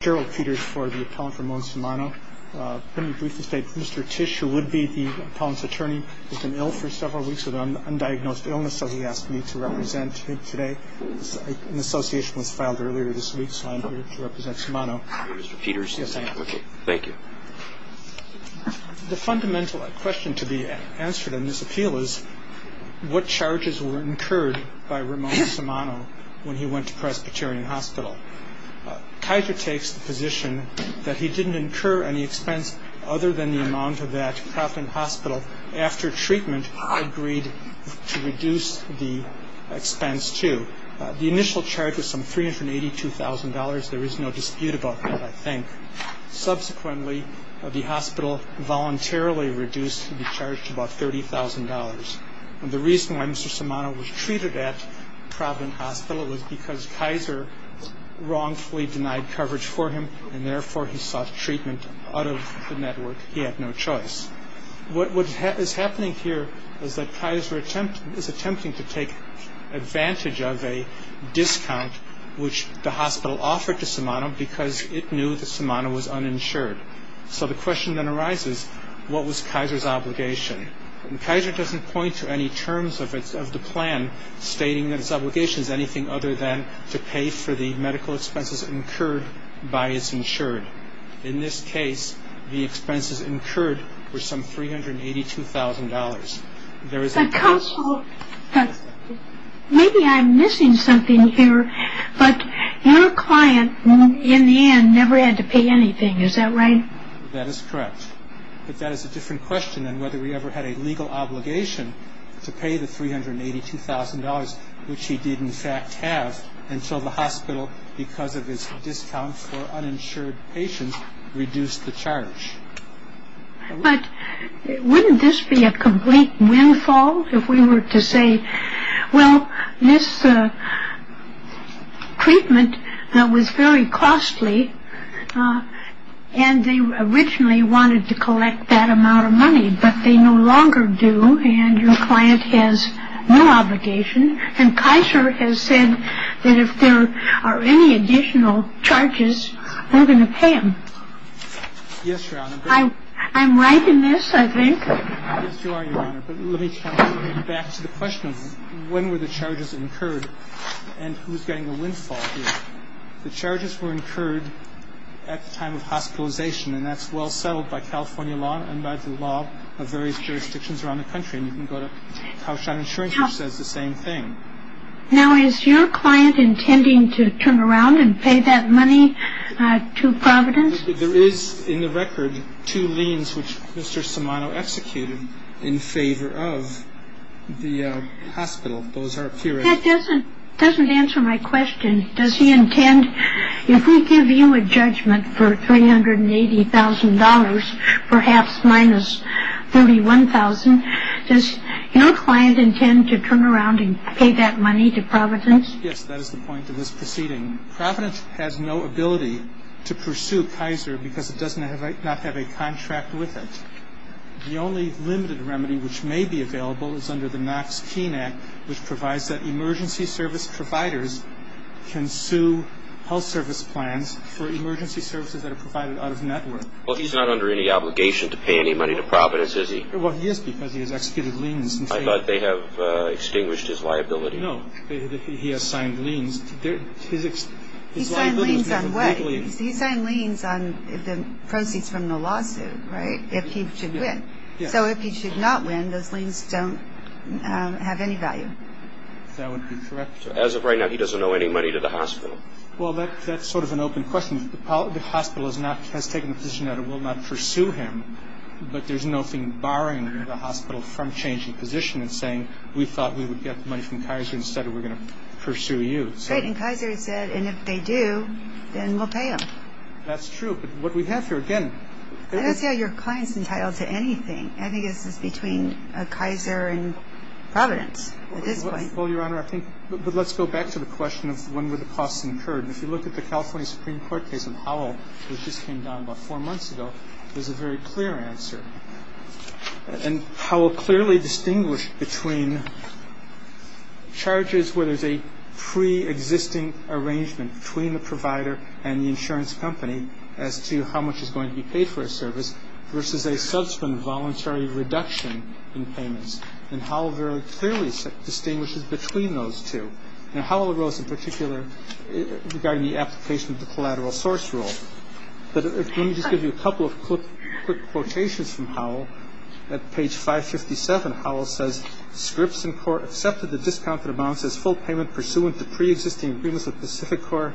Gerald Peters for the appellant Ramon Samano. Let me briefly state, Mr. Tish, who would be the appellant's attorney, has been ill for several weeks with an undiagnosed illness, so he asked me to represent him today. An association was filed earlier this week, so I'm here to represent Samano. Mr. Peters? Yes, I am. Okay, thank you. The fundamental question to be answered in this appeal is what charges were incurred by Ramon Samano when he went to Presbyterian Hospital. Kaiser takes the position that he didn't incur any expense other than the amount of that profit hospital, after treatment, agreed to reduce the expense to. The initial charge was some $382,000. There is no dispute about that, I think. Subsequently, the hospital voluntarily reduced the charge to about $30,000. The reason why Mr. Samano was treated at Providence Hospital was because Kaiser wrongfully denied coverage for him, and therefore he sought treatment out of the network. He had no choice. What is happening here is that Kaiser is attempting to take advantage of a discount which the hospital offered to Samano because it knew that Samano was uninsured. So the question then arises, what was Kaiser's obligation? Kaiser doesn't point to any terms of the plan stating that his obligation is anything other than to pay for the medical expenses incurred by his insured. In this case, the expenses incurred were some $382,000. But counsel, maybe I'm missing something here, but your client, in the end, never had to pay anything, is that right? That is correct. But that is a different question than whether he ever had a legal obligation to pay the $382,000, which he did in fact have, until the hospital, because of his discount for uninsured patients, reduced the charge. But wouldn't this be a complete windfall if we were to say, well, this treatment was very costly, and they originally wanted to collect that amount of money, but they no longer do, and your client has no obligation. And Kaiser has said that if there are any additional charges, we're going to pay them. Yes, Your Honor. I'm right in this, I think. Yes, you are, Your Honor. But let me come back to the question of when were the charges incurred, and who's getting the windfall here. The charges were incurred at the time of hospitalization, and that's well settled by California law and by the law of various jurisdictions around the country. And you can go to Kaushal Insurance, which says the same thing. Now, is your client intending to turn around and pay that money to Providence? There is, in the record, two liens which Mr. Simoneau executed in favor of the hospital. That doesn't answer my question. Does he intend, if we give you a judgment for $380,000, perhaps minus $31,000, does your client intend to turn around and pay that money to Providence? Yes, that is the point of this proceeding. Providence has no ability to pursue Kaiser because it does not have a contract with it. The only limited remedy which may be available is under the Knox-Keene Act, which provides that emergency service providers can sue health service plans for emergency services that are provided out of network. Well, he's not under any obligation to pay any money to Providence, is he? Well, he is because he has executed liens. I thought they have extinguished his liability. No, he has signed liens. He signed liens on what? He signed liens on the proceeds from the lawsuit, right, if he should win. So if he should not win, those liens don't have any value. That would be correct. As of right now, he doesn't owe any money to the hospital. Well, that's sort of an open question. The hospital has taken the position that it will not pursue him, but there's nothing barring the hospital from changing position and saying, we thought we would get money from Kaiser instead of we're going to pursue you. Right, and Kaiser said, and if they do, then we'll pay them. That's true, but what we have here, again... I don't see how your client's entitled to anything. I think this is between Kaiser and Providence at this point. Well, Your Honor, I think, but let's go back to the question of when were the costs incurred. If you look at the California Supreme Court case on Howell, which just came down about four months ago, there's a very clear answer. And Howell clearly distinguished between charges where there's a preexisting arrangement between the provider and the insurance company as to how much is going to be paid for a service versus a subsequent voluntary reduction in payments. And Howell very clearly distinguishes between those two. And Howell wrote in particular regarding the application of the collateral source rule. But let me just give you a couple of quick quotations from Howell. At page 557, Howell says, Scripps and Corp. accepted the discounted amounts as full payment pursuant to preexisting agreements with Pacific Corp.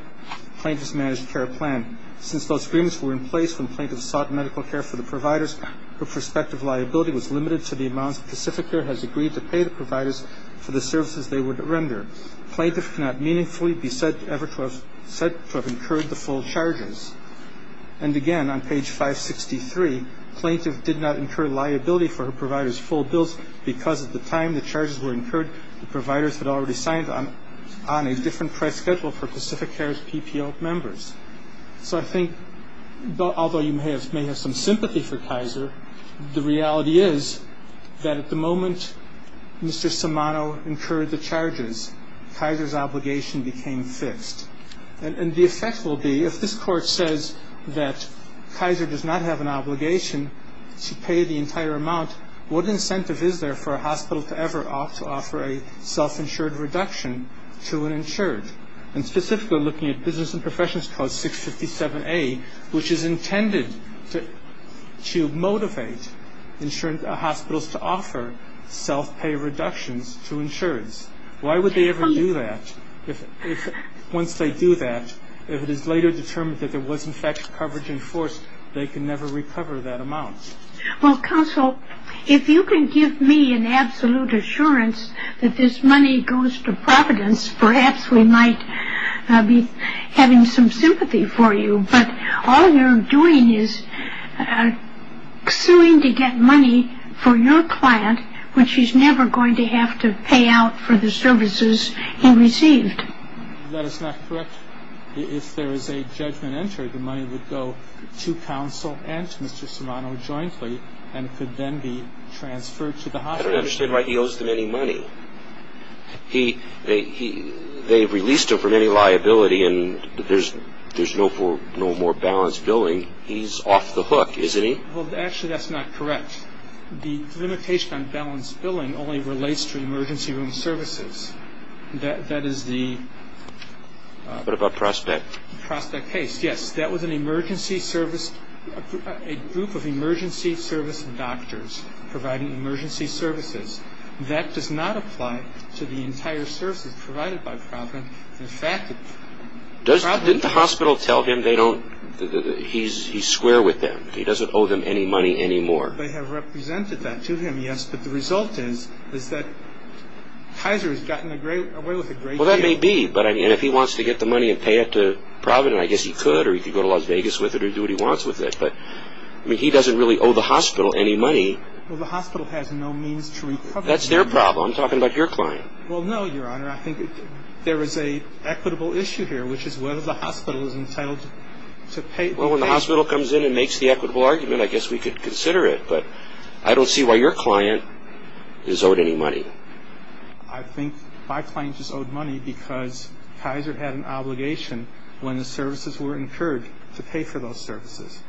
plaintiff's managed care plan. Since those agreements were in place when plaintiff sought medical care for the providers, her prospective liability was limited to the amounts Pacific Corp. has agreed to pay the providers for the services they would render. Plaintiff cannot meaningfully be said to have incurred the full charges. And again, on page 563, plaintiff did not incur liability for her provider's full bills because at the time the charges were incurred, the providers had already signed on a different price schedule for Pacific Corp.'s members. So I think although you may have some sympathy for Kaiser, the reality is that at the moment Mr. Simano incurred the charges, Kaiser's obligation became fixed. And the effect will be if this court says that Kaiser does not have an obligation to pay the entire amount, what incentive is there for a hospital to ever offer a self-insured reduction to an insured? And specifically looking at Business and Professionals Clause 657A, which is intended to motivate insurance hospitals to offer self-pay reductions to insureds. Why would they ever do that if once they do that, if it is later determined that there was in fact coverage enforced, they can never recover that amount? Well, counsel, if you can give me an absolute assurance that this money goes to counsel and to Mr. Simano jointly, then it could then be transferred to the hospital. I don't understand why he owes them any money. They've released him from any liability and there's no more balance billing. He's off the hook, isn't he? Well, actually that's not correct. The limitation on balance billing only relates to emergency room services. That is the What about Prospect? Prospect case, yes. That was an emergency service, a group of emergency service doctors providing emergency services. That does not apply to the entire hospital. That's their problem. I'm talking about your client. Well, no, Your Honor. I think there is an equitable issue here, which is whether the hospital is entitled to pay Well, when the hospital comes in and makes the equitable argument, I guess we could consider it. But I don't see why your client is owed any money. I think my client is owed money because Kaiser had an obligation when the services were incurred to pay for those services.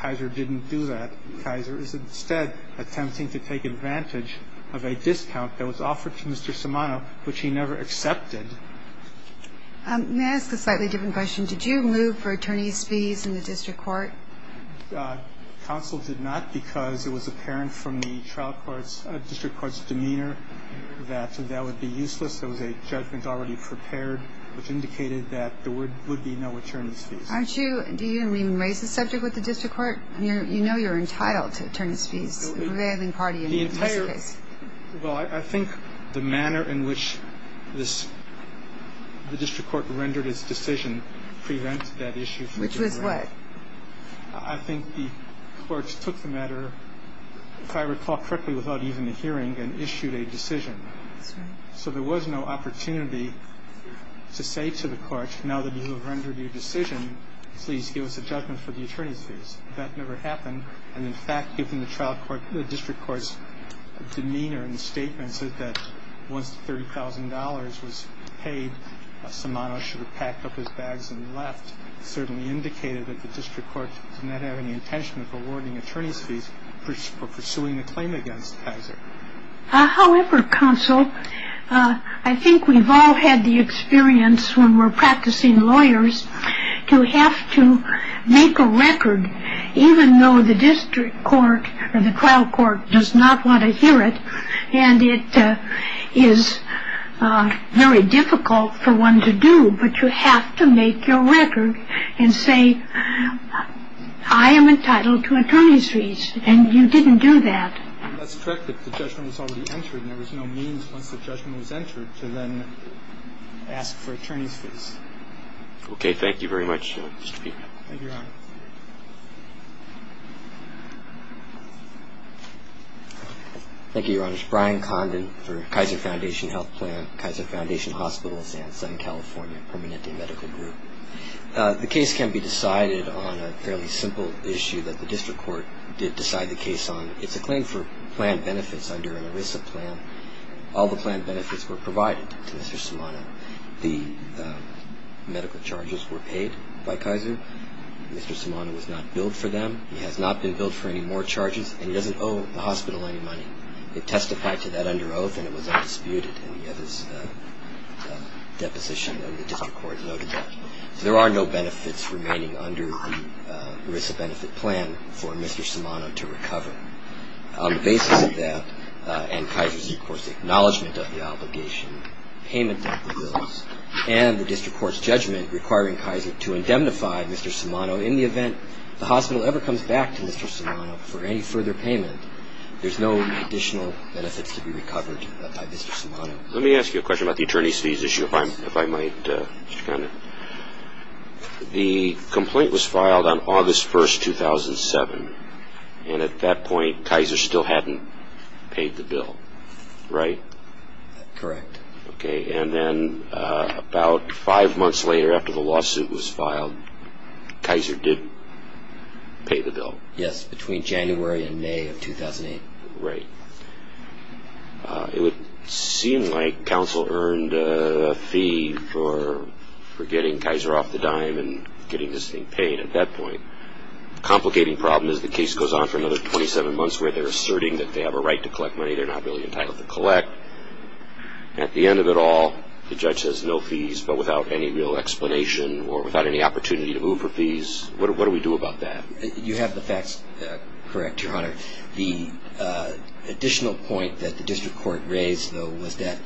Kaiser didn't do that. Kaiser is instead attempting to take advantage of a discount that was offered to Mr. Shimano, which he never accepted. May I ask a slightly different question? Did you move for attorney's fees in the district court? Counsel did not because it was apparent from the trial court's, district court's demeanor that that would be useless. There was a judgment already prepared which indicated that there would be no attorney's fees. Aren't you, do you even raise the subject with the district court? You know you're entitled to attorney's fees, the prevailing party in this case. Well, I think the manner in which this, the district court rendered its decision prevents that issue. Which was what? I think the courts took the matter, if I recall correctly, without even a hearing and issued a decision. That's right. So there was no opportunity to say to the court, now that you have rendered your decision, please give us a judgment for the attorney's fees. That never demeanor in the statement said that once $30,000 was paid, Shimano should have packed up his bags and left. Certainly indicated that the district court did not have any intention of awarding attorney's fees for pursuing a claim against Kaiser. However, counsel, I think we've all had the experience when we're practicing lawyers to have to make a record, even though the district court or the trial court has a record, and it is very difficult for one to do. But you have to make your record and say, I am entitled to attorney's fees. And you didn't do that. That's correct. If the judgment was already entered, there was no means once the judgment was entered to then ask for attorney's fees. Okay. Thank you, Your Honor. Thank you, Your Honor. Brian Condon for Kaiser Foundation Health Plan, Kaiser Foundation Hospitals, and Southern California Permanente Medical Group. The case can be decided on a fairly simple issue that the district court did decide the case on. It's a claim for planned benefits under an ERISA plan. All the planned benefits were provided to Mr. Shimano. The medical charges were paid by Kaiser. Mr. Shimano was not billed for them. He has not been billed for any more charges, and he doesn't owe the hospital any money. It testified to that under oath, and it was undisputed in the other's deposition, and the district court noted that. There are no benefits remaining under the ERISA benefit plan for Mr. Shimano to recover. On the basis of that, and Kaiser's, of course, acknowledgment of the obligation, payment of the bills, and the district court's judgment requiring Kaiser to indemnify Mr. Shimano in the event the hospital ever comes back to Mr. Shimano for any further payment, there's no additional benefits to be recovered by Mr. Shimano. Let me ask you a question about the attorney's fees issue, if I might, Mr. Condon. The complaint was filed on August 1st, 2007, and at that point, Kaiser still hadn't paid the bill, right? Correct. Okay, and then about five months later, after the lawsuit was filed, Kaiser did pay the bill. Yes, between January and May of 2008. Right. It would seem like counsel earned a fee for getting Kaiser off the dime and getting this thing paid at that point. The complicating problem is the case goes on for another 27 months where they're asserting that they have a right to collect money they're not really entitled to collect. At the end of it all, the judge has no fees, but without any real explanation or without any opportunity to move for fees, what do we do about that? You have the facts correct, Your Honor. The additional point that the district court raised, though, was that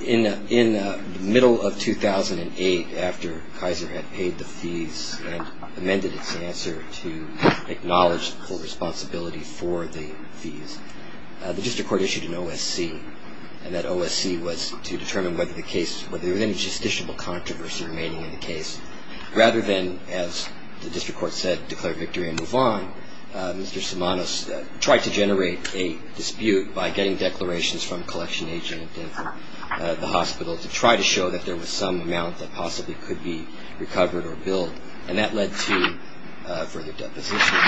in the middle of 2008, after Kaiser had paid the fees and amended its answer to acknowledge full responsibility for the fees, the district court issued an OSC, and that OSC was to determine whether there was any justiciable controversy remaining in the case, rather than, as the district court said, declare victory and move on. Mr. Simonos tried to generate a dispute by getting declarations from a collection agent at the hospital to try to show that there was some amount that possibly could be recovered or billed, and that led to further deposition.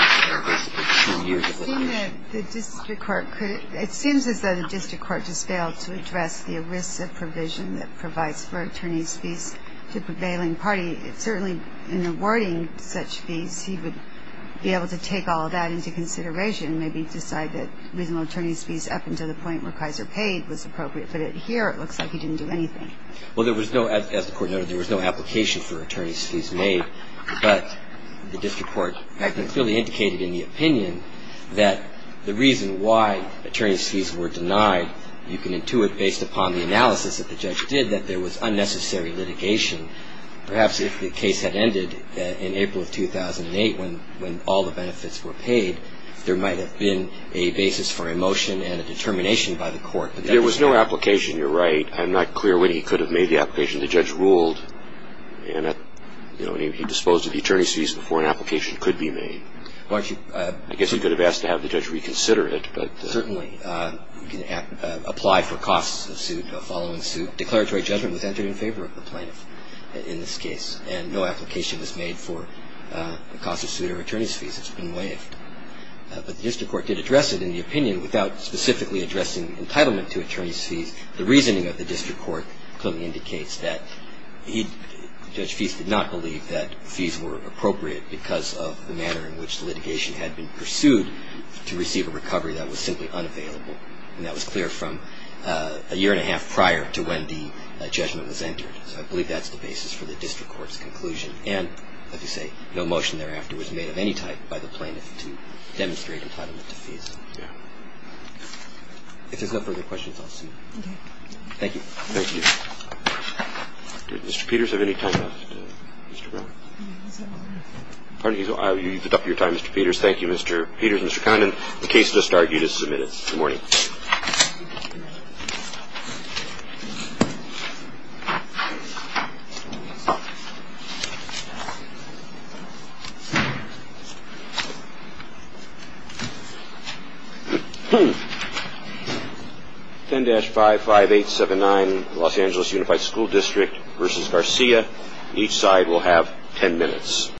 It seems as though the district court just failed to address the risks of provision that provides for attorneys' fees to prevailing parties. It's certainly, in awarding such fees, he would be able to take all of that into consideration, maybe decide that reasonable attorneys' fees up until the point where Kaiser paid was appropriate. But here, it looks like he didn't do anything. Well, there was no, as the court noted, there was no application for attorneys' fees made, but the district court had clearly indicated in the opinion that the reason why attorneys' fees were denied, you can intuit, based upon the analysis that the judge did, that there was unnecessary litigation. Perhaps if the case had ended in April of 2008 when all the benefits were paid, there might have been a basis for a motion and a determination by the court. There was no application, you're right. I'm not clear when he could have made the application. The judge ruled, and he disposed of the attorneys' fees before an application could be made. I guess he could have asked to have the judge reconsider it. Certainly. You can apply for costs of suit, of following suit. Declaratory judgment was entered in favor of the plaintiff in this case, and no application was made for the costs of suit or attorneys' fees. It's been waived. But the district court did address it in the opinion without specifically addressing entitlement to attorneys' fees. The reasoning of the district court clearly indicates that he, Judge Feist, did not believe that fees were appropriate because of the manner in which the litigation had been pursued to receive a recovery that was simply unavailable. And that was clear from a year and a half prior to when the judgment was entered. So I believe that's the basis for the district court's conclusion. And, like you say, no motion thereafter was made of any type by the plaintiff to demonstrate entitlement to fees. Yeah. If there's no further questions, I'll see you. Okay. Thank you. Thank you. Did Mr. Peters have any time left, Mr. Brown? He's up already. Pardon? You put up your time, Mr. Peters. Thank you, Mr. Peters. Mr. Thank you. 10-55879 Los Angeles Unified School District versus Garcia. Each side will have 10 minutes.